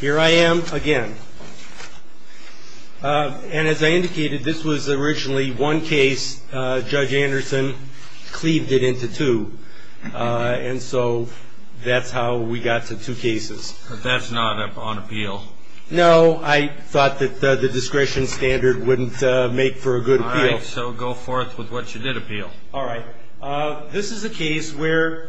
Here I am again. And as I indicated, this was originally one case. Judge Anderson cleaved it into two. And so that's how we got to two cases. But that's not on appeal. No, I thought that the discretion standard wouldn't make for a good appeal. All right, so go forth with what you did appeal. All right. This is a case where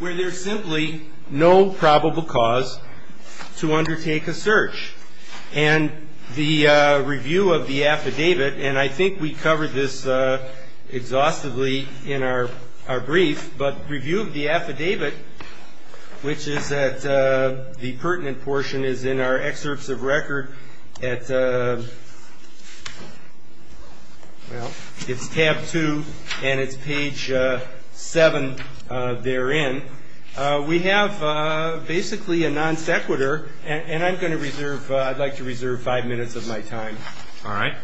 there's simply no probable cause to undertake a search. And the review of the affidavit, and I think we covered this exhaustively in our brief, but review of the affidavit, which is that the pertinent portion is in our excerpts of record at, well, it's tab two and it's page seven therein. We have basically a non sequitur, and I'm going to reserve, I'd like to reserve five minutes of my time. All right.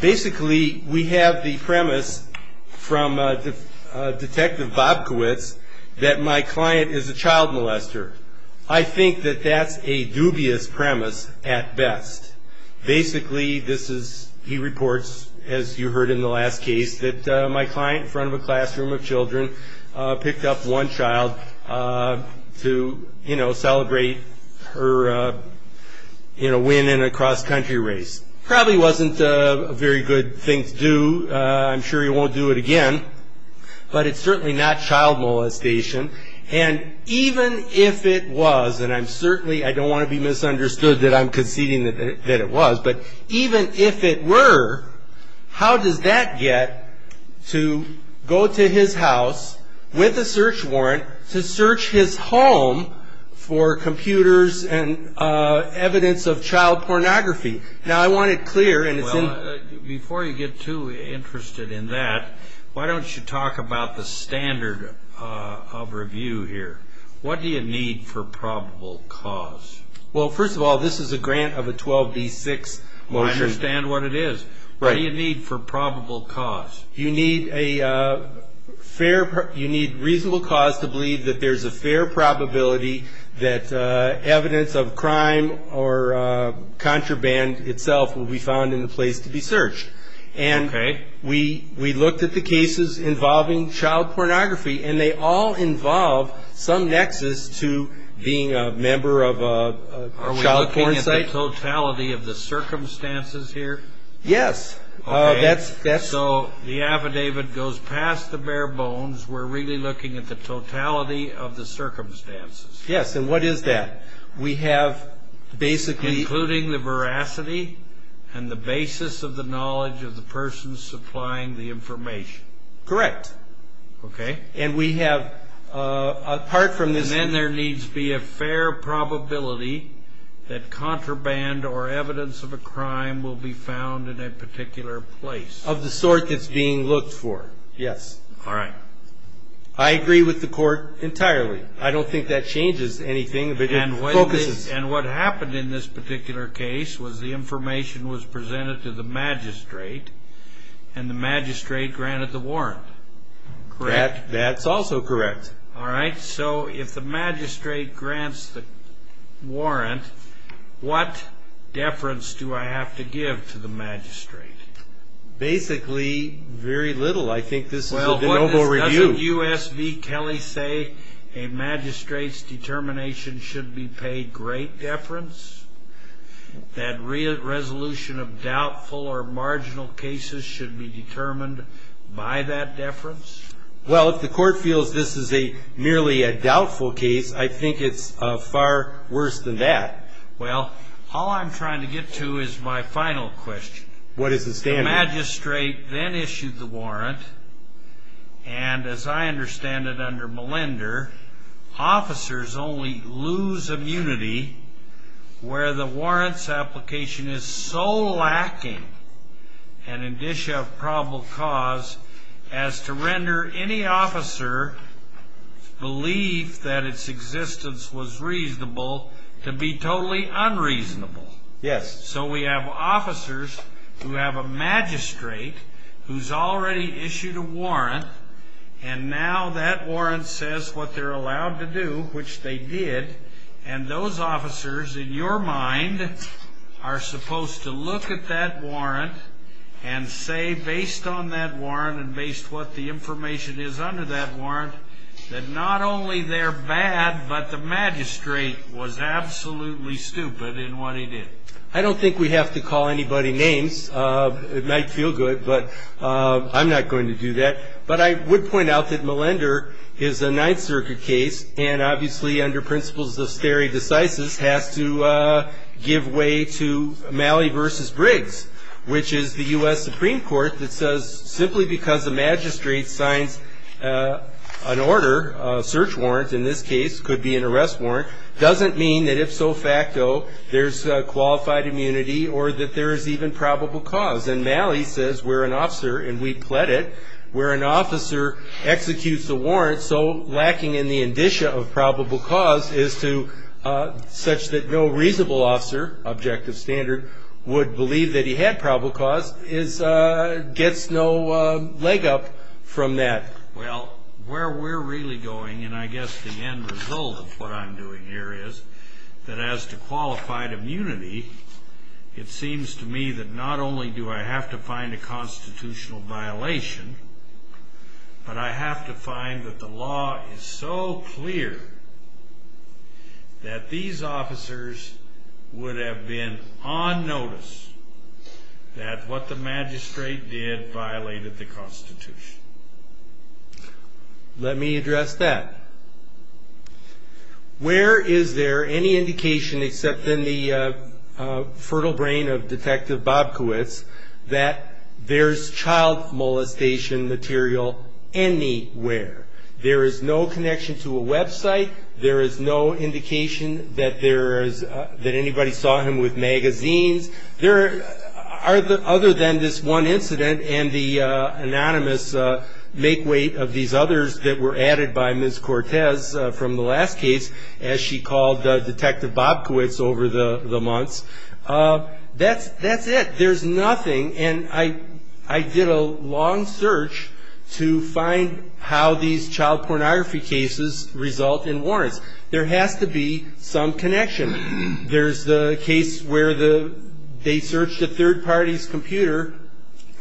Basically, we have the premise from Detective Bobkowitz that my client is a child molester. I think that that's a dubious premise at best. Basically, this is, he reports, as you heard in the last case, that my client in front of a classroom of children picked up one child to, you know, celebrate her, you know, win in a cross-country race. Probably wasn't a very good thing to do. I'm sure he won't do it again, but it's certainly not child molestation. And even if it was, and I'm certainly, I don't want to be misunderstood that I'm conceding that it was, but even if it were, how does that get to go to his house with a search warrant to search his home for computers and evidence of child pornography? Now, I want it clear, and it's in... Well, before you get too interested in that, why don't you talk about the standard of review here? What do you need for probable cause? Well, first of all, this is a grant of a 12B6. Well, sure. I understand what it is. Right. What do you need for probable cause? You need reasonable cause to believe that there's a fair probability that evidence of crime or contraband itself will be found in the place to be searched. Okay. And we looked at the cases involving child pornography, and they all involve some nexus to being a member of a child porn site. Are we looking at the totality of the circumstances here? Yes. Okay. So the affidavit goes past the bare bones. We're really looking at the totality of the circumstances. Yes, and what is that? We have basically... Including the veracity and the basis of the knowledge of the person supplying the information. Correct. Okay. And we have, apart from this... Of the sort that's being looked for. Yes. All right. I agree with the court entirely. I don't think that changes anything, but it focuses. And what happened in this particular case was the information was presented to the magistrate, and the magistrate granted the warrant. Correct. That's also correct. All right. So if the magistrate grants the warrant, what deference do I have to give to the magistrate? Basically, very little. I think this is a de novo review. Well, doesn't U.S. v. Kelly say a magistrate's determination should be paid great deference? That resolution of doubtful or marginal cases should be determined by that deference? Well, if the court feels this is merely a doubtful case, I think it's far worse than that. Well, all I'm trying to get to is my final question. What is the standard? The magistrate then issued the warrant, and as I understand it under Melinder, officers only lose immunity where the warrant's application is so lacking, and in Dish of Probable Cause, as to render any officer's belief that its existence was reasonable to be totally unreasonable. Yes. So we have officers who have a magistrate who's already issued a warrant, and now that warrant says what they're allowed to do, which they did, and those officers, in your mind, are supposed to look at that warrant and say based on that warrant and based what the information is under that warrant, that not only they're bad, but the magistrate was absolutely stupid in what he did. I don't think we have to call anybody names. It might feel good, but I'm not going to do that. But I would point out that Melinder is a Ninth Circuit case, and obviously under principles of stare decisis has to give way to Malley v. Briggs, which is the U.S. Supreme Court that says simply because the magistrate signs an order, a search warrant in this case, could be an arrest warrant, doesn't mean that if so facto there's qualified immunity or that there is even probable cause. And Malley says we're an officer, and we pled it, where an officer executes a warrant so lacking in the indicia of probable cause such that no reasonable officer, objective standard, would believe that he had probable cause, gets no leg up from that. Well, where we're really going, and I guess the end result of what I'm doing here is that as to qualified immunity, it seems to me that not only do I have to find a constitutional violation, but I have to find that the law is so clear that these officers would have been on notice that what the magistrate did violated the Constitution. Let me address that. Where is there any indication except in the fertile brain of Detective Bobkowitz that there's child molestation material anywhere? There is no connection to a website. There is no indication that anybody saw him with magazines. Other than this one incident and the anonymous make weight of these others that were added by Ms. Cortez from the last case, as she called Detective Bobkowitz over the months, that's it. There's nothing, and I did a long search to find how these child pornography cases result in warrants. There has to be some connection. There's the case where they searched a third party's computer,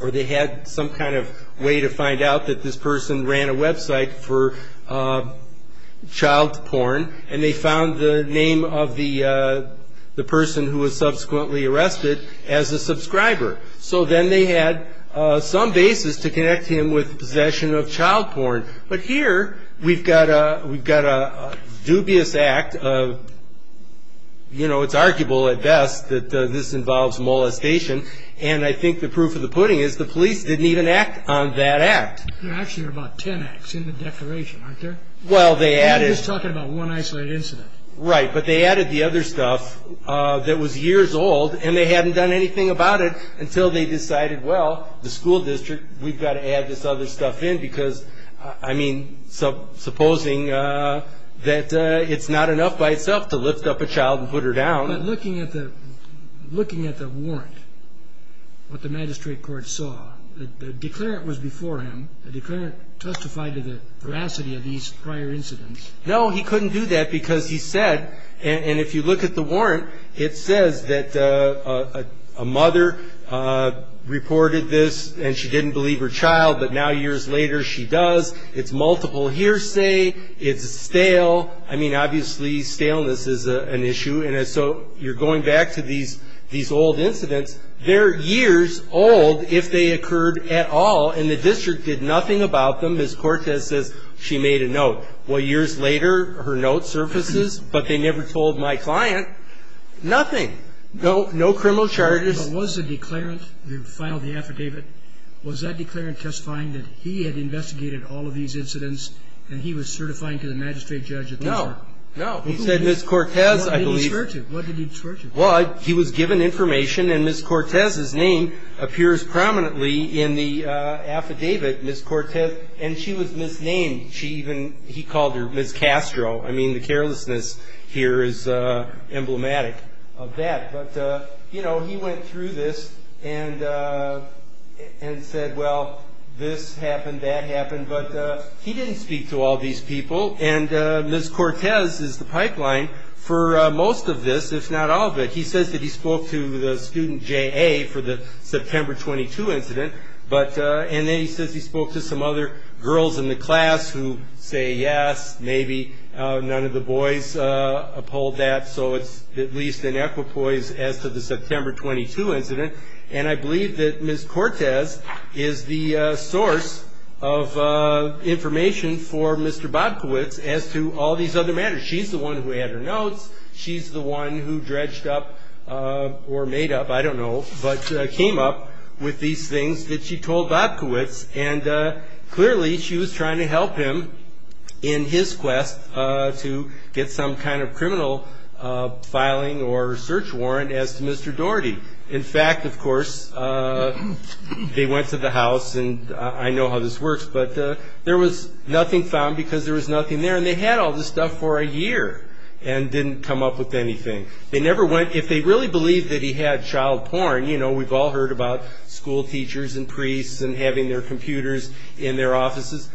or they had some kind of way to find out that this person ran a website for child porn, and they found the name of the person who was subsequently arrested as a subscriber. So then they had some basis to connect him with possession of child porn. But here we've got a dubious act of, you know, it's arguable at best that this involves molestation, and I think the proof of the pudding is the police didn't even act on that act. There are actually about ten acts in the declaration, aren't there? Well, they added... We're just talking about one isolated incident. Right, but they added the other stuff that was years old, and they hadn't done anything about it until they decided, well, the school district, we've got to add this other stuff in because, I mean, supposing that it's not enough by itself to lift up a child and put her down. But looking at the warrant, what the magistrate court saw, the declarant was before him. The declarant testified to the veracity of these prior incidents. No, he couldn't do that because he said, and if you look at the warrant, it says that a mother reported this and she didn't believe her child, but now years later she does. It's multiple hearsay. It's stale. I mean, obviously staleness is an issue, and so you're going back to these old incidents. They're years old if they occurred at all, and the district did nothing about them. Ms. Cortez says she made a note. Well, years later her note surfaces, but they never told my client nothing. No criminal charges. But was the declarant who filed the affidavit, was that declarant testifying that he had investigated all of these incidents and he was certifying to the magistrate judge at the court? No, no. He said Ms. Cortez, I believe. What did he swear to? Blood. He was given information, and Ms. Cortez's name appears prominently in the affidavit, Ms. Cortez, and she was misnamed. He called her Ms. Castro. I mean, the carelessness here is emblematic of that. But, you know, he went through this and said, well, this happened, that happened, but he didn't speak to all these people, and Ms. Cortez is the pipeline for most of this, if not all of it. He says that he spoke to the student JA for the September 22 incident, and then he says he spoke to some other girls in the class who say yes, maybe. None of the boys uphold that, so it's at least an equipoise as to the September 22 incident. And I believe that Ms. Cortez is the source of information for Mr. Bobkowitz as to all these other matters. She's the one who had her notes. She's the one who dredged up or made up, I don't know, but came up with these things that she told Bobkowitz, and clearly she was trying to help him in his quest to get some kind of criminal filing or search warrant as to Mr. Daugherty. In fact, of course, they went to the house, and I know how this works, but there was nothing found because there was nothing there, and they had all this stuff for a year and didn't come up with anything. They never went. If they really believed that he had child porn, you know, we've all heard about school teachers and priests and having their computers in their offices.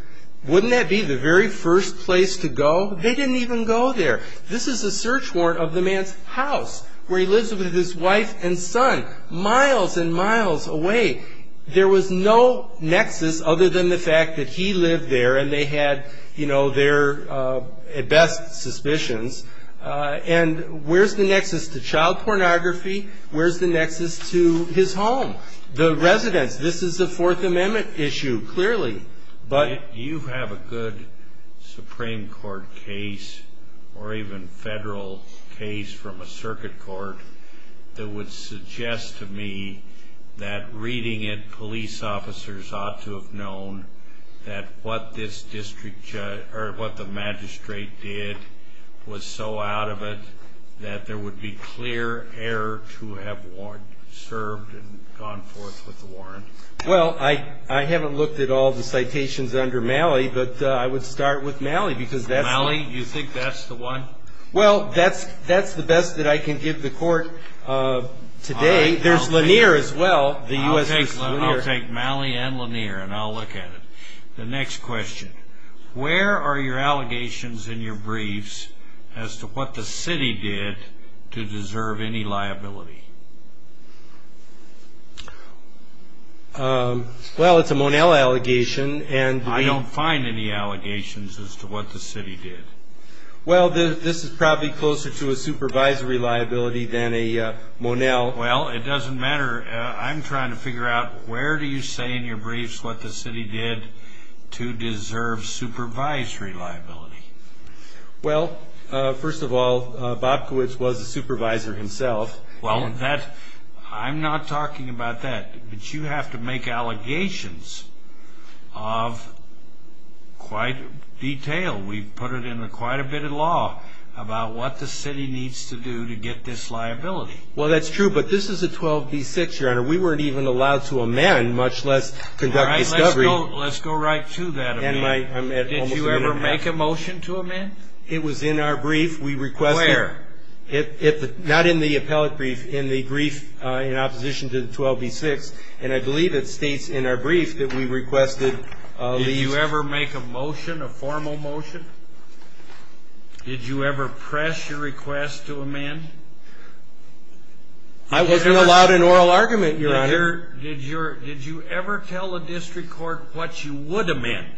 Wouldn't that be the very first place to go? They didn't even go there. This is a search warrant of the man's house where he lives with his wife and son miles and miles away. There was no nexus other than the fact that he lived there and they had, you know, their best suspicions. And where's the nexus to child pornography? Where's the nexus to his home, the residence? This is a Fourth Amendment issue, clearly. You have a good Supreme Court case or even federal case from a circuit court that would suggest to me that reading it, police officers ought to have known that what this district judge or what the magistrate did was so out of it that there would be clear error to have served and gone forth with the warrant. Well, I haven't looked at all the citations under Malley, but I would start with Malley because that's... Malley? You think that's the one? Well, that's the best that I can give the court today. There's Lanier as well. I'll take Malley and Lanier and I'll look at it. The next question. Where are your allegations in your briefs as to what the city did to deserve any liability? Well, it's a Monell allegation. I don't find any allegations as to what the city did. Well, this is probably closer to a supervisory liability than a Monell. Well, it doesn't matter. I'm trying to figure out where do you say in your briefs what the city did to deserve supervisory liability? Well, first of all, Bobkowitz was a supervisor himself. Well, I'm not talking about that, but you have to make allegations of quite detail. We've put it in quite a bit of law about what the city needs to do to get this liability. Well, that's true, but this is a 12b-6, Your Honor. We weren't even allowed to amend, much less conduct discovery. Let's go right to that amendment. Did you ever make a motion to amend? It was in our brief. Where? Not in the appellate brief, in the brief in opposition to the 12b-6, and I believe it states in our brief that we requested these. Did you ever make a motion, a formal motion? Did you ever press your request to amend? I wasn't allowed an oral argument, Your Honor. Did you ever tell the district court what you would amend?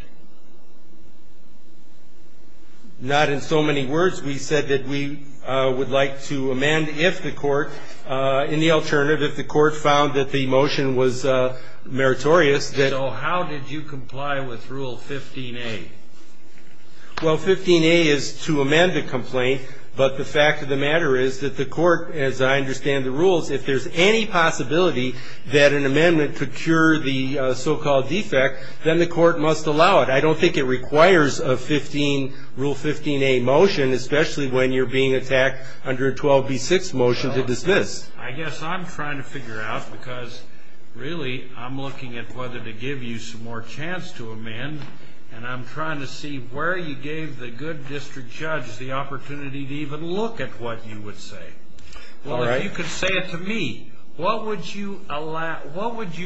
Not in so many words. We said that we would like to amend if the court, in the alternative, if the court found that the motion was meritorious. So how did you comply with Rule 15a? Well, 15a is to amend the complaint, but the fact of the matter is that the court, as I understand the rules, if there's any possibility that an amendment could cure the so-called defect, then the court must allow it. I don't think it requires a Rule 15a motion, especially when you're being attacked under a 12b-6 motion to dismiss. I guess I'm trying to figure out, because really I'm looking at whether to give you some more chance to amend, and I'm trying to see where you gave the good district judge the opportunity to even look at what you would say. Well, if you could say it to me, what would you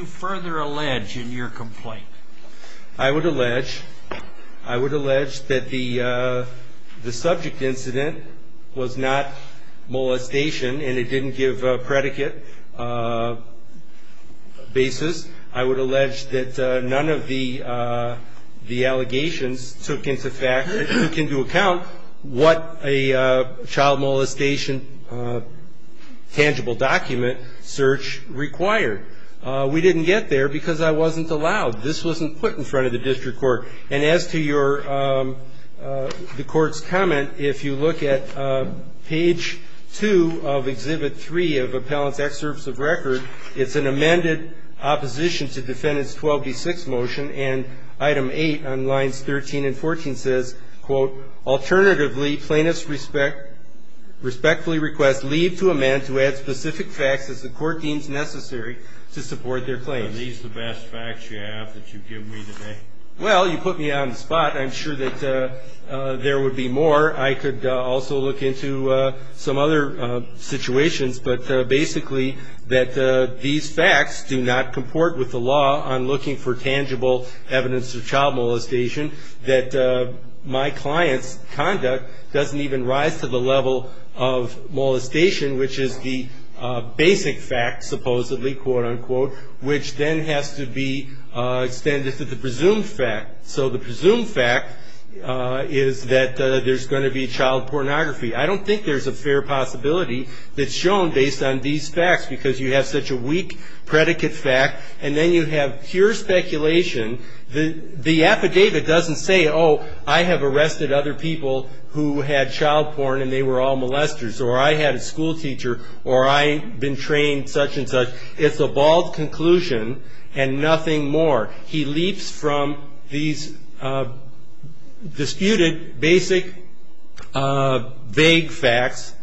further allege in your complaint? I would allege that the subject incident was not molestation and it didn't give a predicate basis. I would allege that none of the allegations took into account what a child molestation tangible document search required. We didn't get there because I wasn't allowed. This wasn't put in front of the district court. And as to the court's comment, if you look at page 2 of Exhibit 3 of Appellant's Excerpts of Record, it's an amended opposition to Defendant's 12b-6 motion, and Item 8 on Lines 13 and 14 says, quote, Alternatively, plaintiffs respectfully request leave to amend to add specific facts as the court deems necessary to support their claims. Are these the best facts you have that you've given me today? Well, you put me on the spot. I'm sure that there would be more. I could also look into some other situations, but basically that these facts do not comport with the law. I'm looking for tangible evidence of child molestation, that my client's conduct doesn't even rise to the level of molestation, which is the basic fact, supposedly, quote, unquote, which then has to be extended to the presumed fact. So the presumed fact is that there's going to be child pornography. I don't think there's a fair possibility that's shown based on these facts because you have such a weak predicate fact, and then you have pure speculation. The affidavit doesn't say, oh, I have arrested other people who had child porn and they were all molesters, or I had a school teacher, or I've been trained such and such. It's a bald conclusion and nothing more. He leaps from these disputed, basic, vague facts,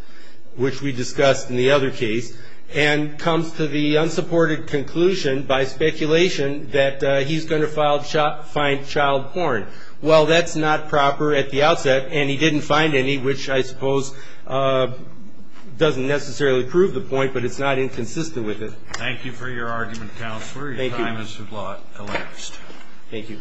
which we discussed in the other case, and comes to the unsupported conclusion by speculation that he's going to find child porn. Well, that's not proper at the outset, and he didn't find any, which I suppose doesn't necessarily prove the point, but it's not inconsistent with it. Thank you for your argument, Counselor. Your time has elapsed. Thank you.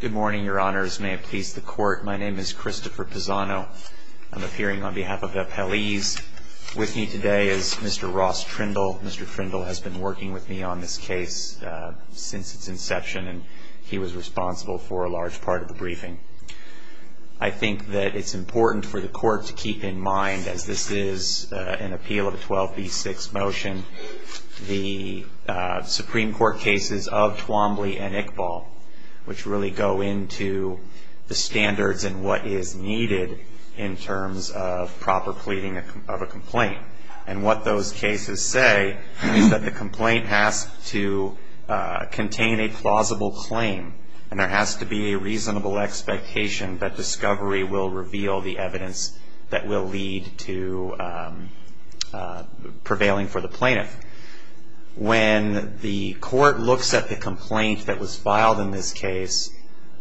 Good morning, Your Honors. May it please the Court, my name is Christopher Pisano. I'm appearing on behalf of the appellees. With me today is Mr. Ross Trindle. Mr. Trindle has been working with me on this case since its inception, and he was responsible for a large part of the briefing. I think that it's important for the Court to keep in mind, as this is an appeal of a 12b6 motion, the Supreme Court cases of Twombly and Iqbal, which really go into the standards and what is needed in terms of proper pleading of a complaint. And what those cases say is that the complaint has to contain a plausible claim, and there has to be a reasonable expectation that discovery will reveal the evidence that will lead to prevailing for the plaintiff. When the Court looks at the complaint that was filed in this case,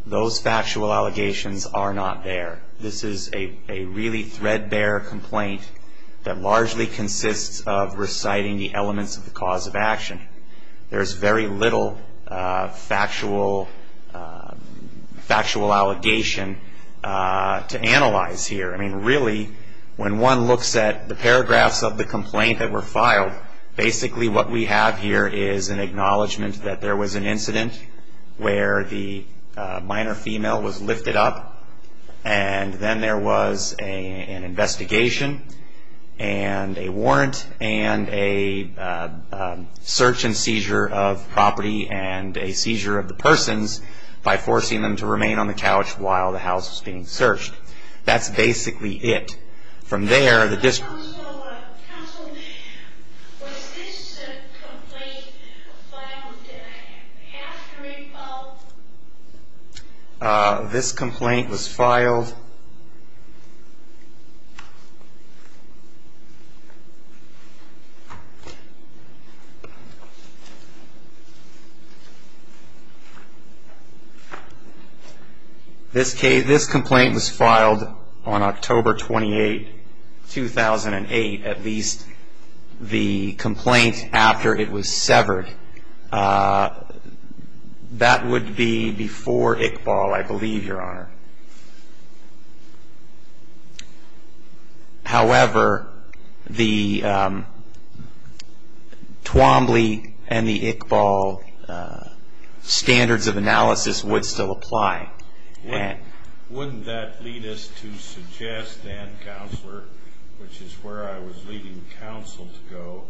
those factual allegations are not there. This is a really threadbare complaint that largely consists of reciting the elements of the cause of action. There's very little factual allegation to analyze here. I mean, really, when one looks at the paragraphs of the complaint that were filed, basically what we have here is an acknowledgment that there was an incident where the minor female was lifted up, and then there was an investigation and a warrant and a search and seizure of property and a seizure of the persons by forcing them to remain on the couch while the house was being searched. That's basically it. Counsel, was this complaint filed after he filed? This complaint was filed on October 28, 2008, at least the complaint after it was severed. That would be before Iqbal, I believe, Your Honor. However, the Twombly and the Iqbal standards of analysis would still apply. Wouldn't that lead us to suggest then, Counselor, which is where I was leading counsel to go,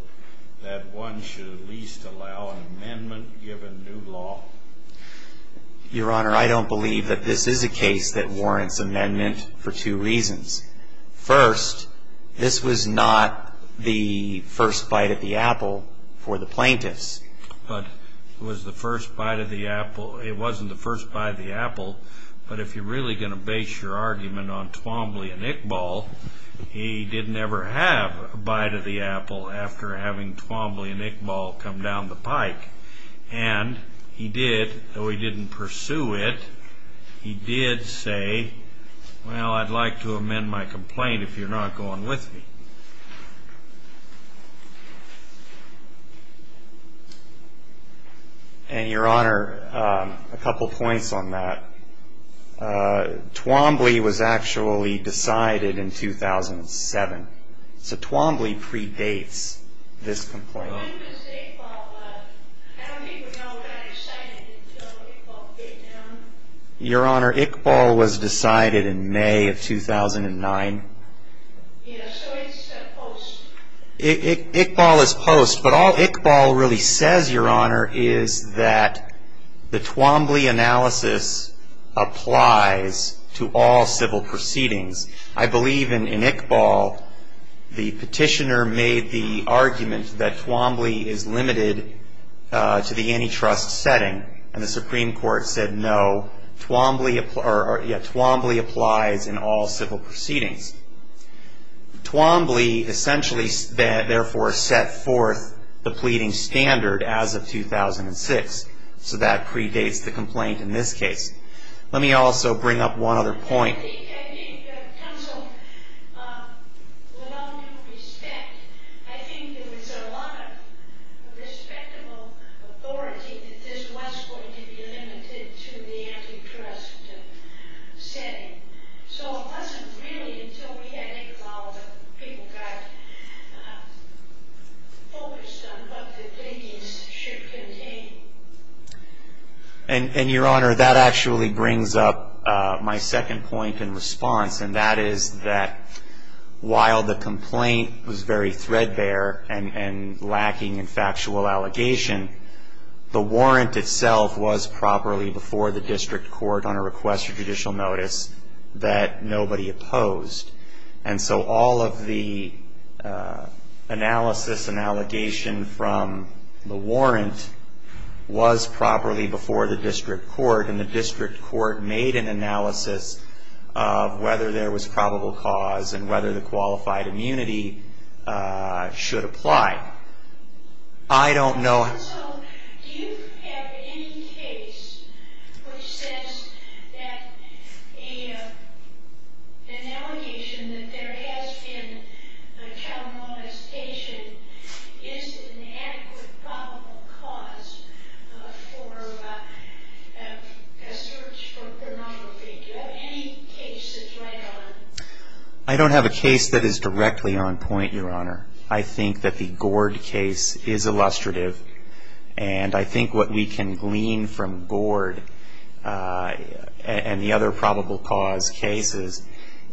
that one should at least allow an amendment given new law? Your Honor, I don't believe that this is a case that warrants amendment for two reasons. First, this was not the first bite of the apple for the plaintiffs. It wasn't the first bite of the apple, but if you're really going to base your argument on Twombly and Iqbal, he didn't ever have a bite of the apple after having Twombly and Iqbal come down the pike. And he did, though he didn't pursue it, he did say, well, I'd like to amend my complaint if you're not going with me. And, Your Honor, a couple points on that. Twombly was actually decided in 2007, so Twombly predates this complaint. Your Honor, Iqbal was decided in May of 2009. Yes, so it's post. Iqbal is post, but all Iqbal really says, Your Honor, is that the Twombly analysis applies to all civil proceedings. I believe in Iqbal, the petitioner made the argument that Twombly is limited to the antitrust setting, and the Supreme Court said no, Twombly applies in all civil proceedings. Twombly essentially therefore set forth the pleading standard as of 2006, so that predates the complaint in this case. Let me also bring up one other point. I think counsel, with all due respect, I think there was a lot of respectable authority that this was going to be limited to the antitrust setting. So it wasn't really until we had Iqbal that people got focused on what the pleadings should contain. And, Your Honor, that actually brings up my second point in response, and that is that while the complaint was very threadbare and lacking in factual allegation, the warrant itself was properly before the district court on a request for judicial notice that nobody opposed. And so all of the analysis and allegation from the warrant was properly before the district court, and the district court made an analysis of whether there was probable cause and whether the qualified immunity should apply. I don't know... Also, do you have any case which says that an allegation that there has been a child molestation is an adequate probable cause for a search for pornography? Do you have any cases like that? I don't have a case that is directly on point, Your Honor. I think that the Gord case is illustrative, and I think what we can glean from Gord and the other probable cause cases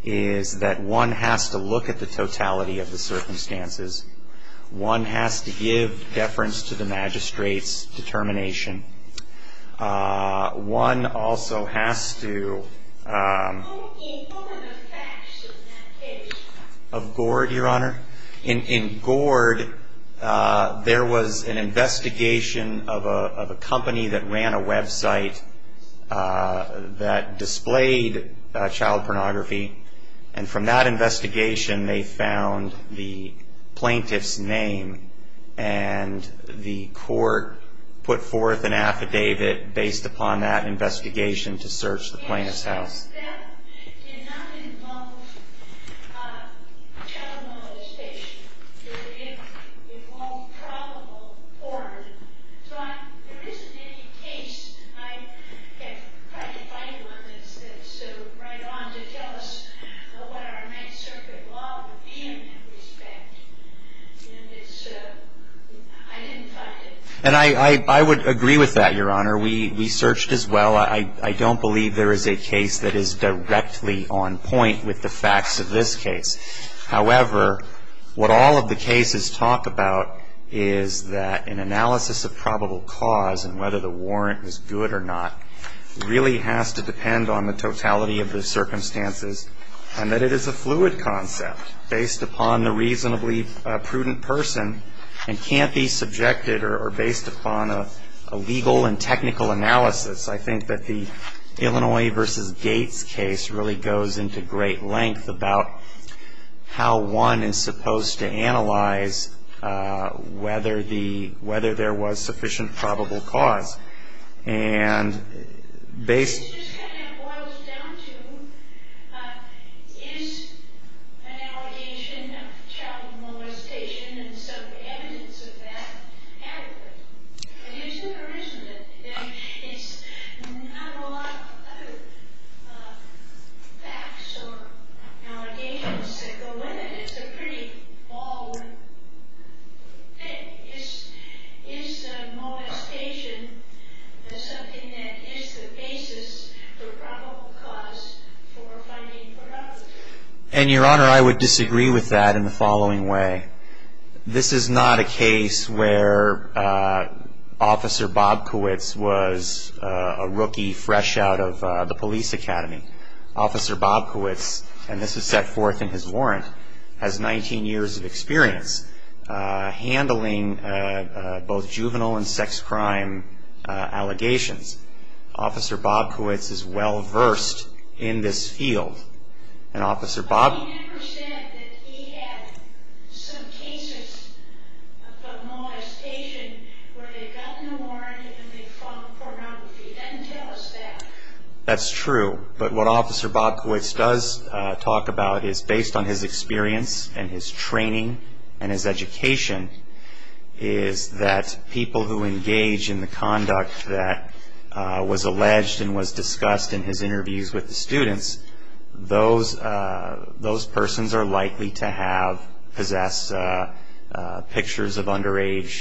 is that one has to look at the totality of the circumstances. One has to give deference to the magistrate's determination. One also has to... What are the facts of that case? Of Gord, Your Honor? In Gord, there was an investigation of a company that ran a website that displayed child pornography, and from that investigation they found the plaintiff's name, and the court put forth an affidavit based upon that investigation to search the plaintiff's house. Does that not involve child molestation? Does it involve probable porn? So there isn't any case, and I have tried to find one that's right on to tell us what our Ninth Circuit law would be in that respect, and I didn't find it. And I would agree with that, Your Honor. We searched as well. I don't believe there is a case that is directly on point with the facts of this case. However, what all of the cases talk about is that an analysis of probable cause and whether the warrant is good or not really has to depend on the totality of the circumstances and that it is a fluid concept based upon the reasonably prudent person and can't be subjected or based upon a legal and technical analysis. I think that the Illinois v. Gates case really goes into great length about how one is supposed to analyze whether there was sufficient probable cause. And it just kind of boils down to, is an allegation of child molestation and some evidence of that adequate? And is it or isn't it? It's not a lot of other facts or allegations that go in it. It's a pretty ballroom thing. Is molestation something that is the basis for probable cause for fighting for others? And, Your Honor, I would disagree with that in the following way. This is not a case where Officer Bobkowitz was a rookie fresh out of the police academy. Officer Bobkowitz, and this is set forth in his warrant, has 19 years of experience handling both juvenile and sex crime allegations. Officer Bobkowitz is well versed in this field. And Officer Bobkowitz... But he never said that he had some cases of molestation where they got in a warrant and they fought pornography. He doesn't tell us that. That's true. But what Officer Bobkowitz does talk about is based on his experience and his training and his education, is that people who engage in the conduct that was alleged and was discussed in his interviews with the students, those persons are likely to possess pictures of underage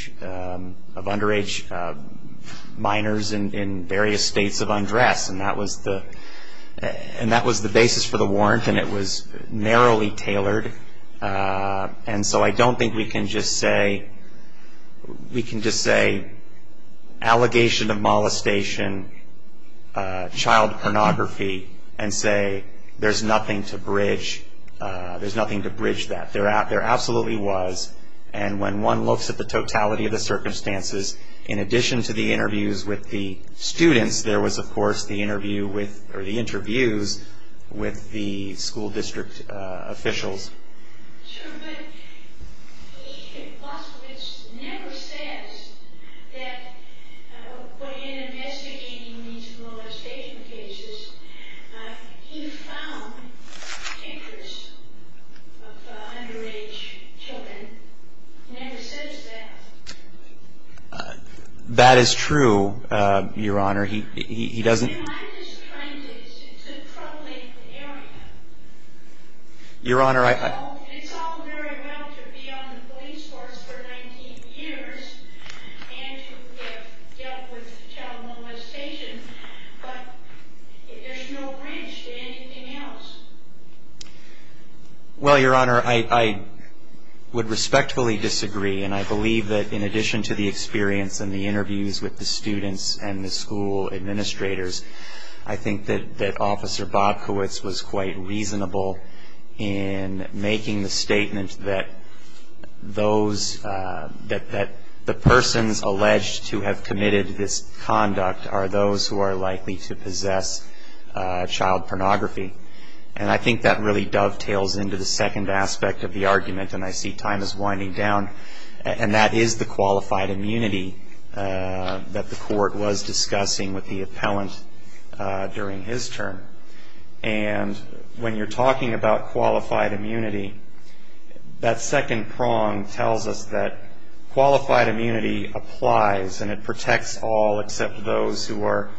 minors in various states of undress. And that was the basis for the warrant. And it was narrowly tailored. And so I don't think we can just say, we can just say allegation of molestation, child pornography, and say there's nothing to bridge that. There absolutely was. And when one looks at the totality of the circumstances, in addition to the interviews with the students, there was, of course, the interviews with the school district officials. But Officer Bobkowitz never says that in investigating these molestation cases, he found pictures of underage children. He never says that. That is true, Your Honor. He doesn't... I'm just trying to. It's a troubling area. Your Honor, I... It's all very well to be on the police force for 19 years and to have dealt with child molestation, but there's no bridge to anything else. Well, Your Honor, I would respectfully disagree. And I believe that in addition to the experience and the interviews with the students and the school administrators, I think that Officer Bobkowitz was quite reasonable in making the statement that the persons alleged to have committed this conduct are those who are likely to possess child pornography. And I think that really dovetails into the second aspect of the argument, and I see time is winding down, and that is the qualified immunity that the court was discussing with the appellant during his term. And when you're talking about qualified immunity, that second prong tells us that qualified immunity applies and it protects all except those who are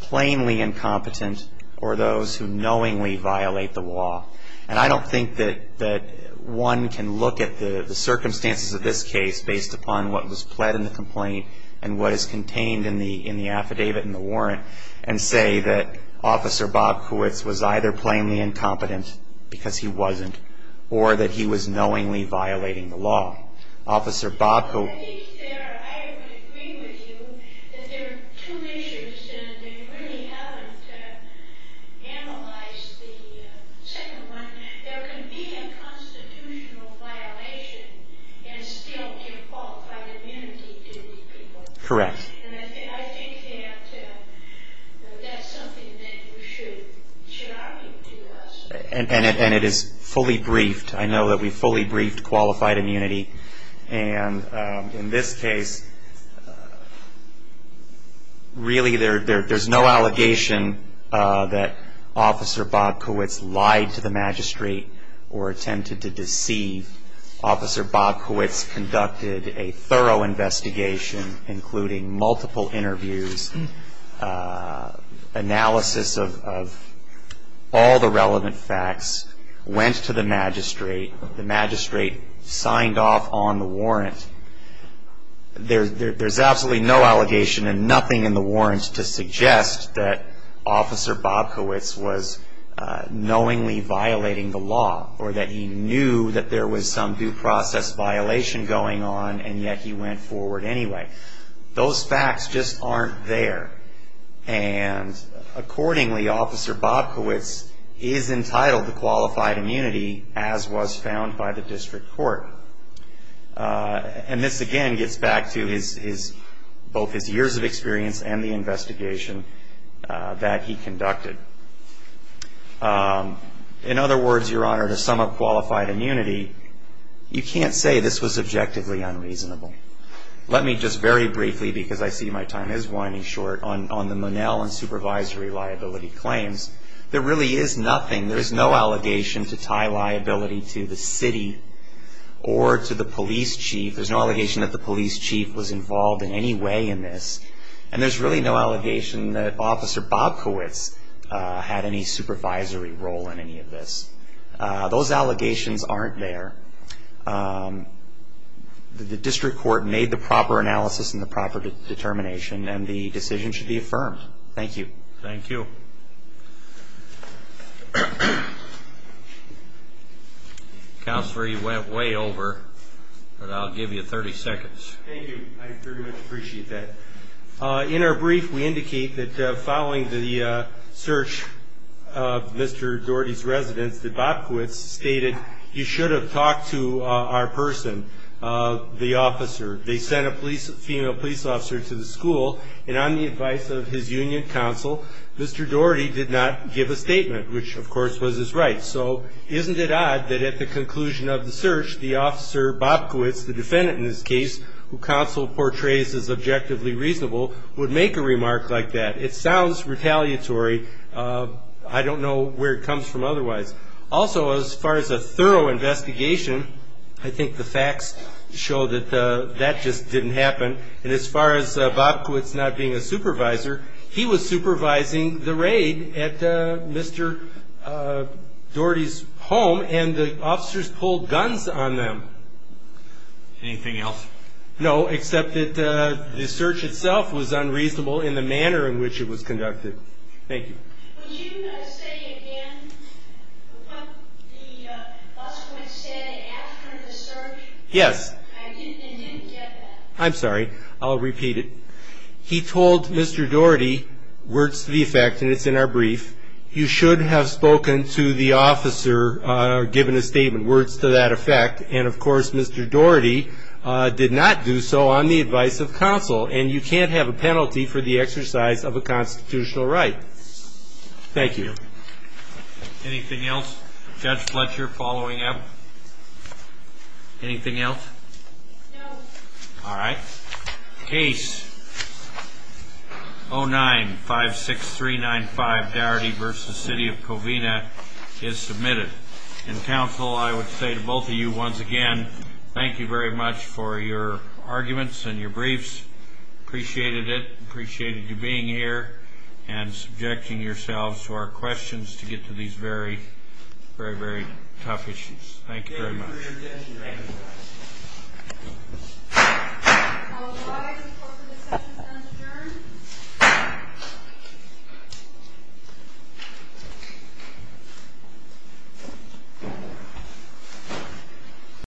plainly incompetent or those who knowingly violate the law. And I don't think that one can look at the circumstances of this case based upon what was pled in the complaint and what is contained in the affidavit and the warrant and say that Officer Bobkowitz was either plainly incompetent because he wasn't or that he was knowingly violating the law. Officer Bobkowitz... I think there... I would agree with you that there are two issues and they really haven't analyzed the second one. There can be a constitutional violation and still give qualified immunity to these people. Correct. And I think that that's something that you should argue to us. And it is fully briefed. I know that we fully briefed qualified immunity. And in this case, really there's no allegation that Officer Bobkowitz lied to the magistrate or attempted to deceive. Officer Bobkowitz conducted a thorough investigation, including multiple interviews, analysis of all the relevant facts, went to the magistrate. The magistrate signed off on the warrant. There's absolutely no allegation and nothing in the warrant to suggest that Officer Bobkowitz was knowingly violating the law or that he knew that there was some due process violation going on and yet he went forward anyway. Those facts just aren't there. And accordingly, Officer Bobkowitz is entitled to qualified immunity as was found by the district court. And this, again, gets back to both his years of experience and the investigation that he conducted. In other words, Your Honor, to sum up qualified immunity, you can't say this was objectively unreasonable. Let me just very briefly, because I see my time is winding short, on the Monell and supervisory liability claims. There really is nothing. There is no allegation to tie liability to the city or to the police chief. There's no allegation that the police chief was involved in any way in this. And there's really no allegation that Officer Bobkowitz had any supervisory role in any of this. Those allegations aren't there. The district court made the proper analysis and the proper determination, and the decision should be affirmed. Thank you. Thank you. Counselor, you went way over, but I'll give you 30 seconds. Thank you. I very much appreciate that. In our brief, we indicate that following the search of Mr. Doherty's residence, that Bobkowitz stated, you should have talked to our person, the officer. They sent a female police officer to the school, and on the advice of his union counsel, Mr. Doherty did not give a statement, which, of course, was his right. So isn't it odd that at the conclusion of the search, the officer Bobkowitz, the defendant in this case, who counsel portrays as objectively reasonable, would make a remark like that? It sounds retaliatory. I don't know where it comes from otherwise. Also, as far as a thorough investigation, I think the facts show that that just didn't happen. And as far as Bobkowitz not being a supervisor, he was supervising the raid at Mr. Doherty's home, and the officers pulled guns on them. Anything else? No, except that the search itself was unreasonable in the manner in which it was conducted. Thank you. Would you say again what Bobkowitz said after the search? Yes. I didn't get that. I'm sorry. I'll repeat it. He told Mr. Doherty, words to the effect, and it's in our brief, you should have spoken to the officer or given a statement, words to that effect, and, of course, Mr. Doherty did not do so on the advice of counsel, and you can't have a penalty for the exercise of a constitutional right. Thank you. Anything else? Judge Fletcher, following up? Anything else? No. All right. Case 09-56395, Doherty v. City of Covina, is submitted. And, counsel, I would say to both of you once again, thank you very much for your arguments and your briefs. I appreciated it, appreciated you being here and subjecting yourselves to our questions to get to these very, very tough issues. Thank you very much. Thank you.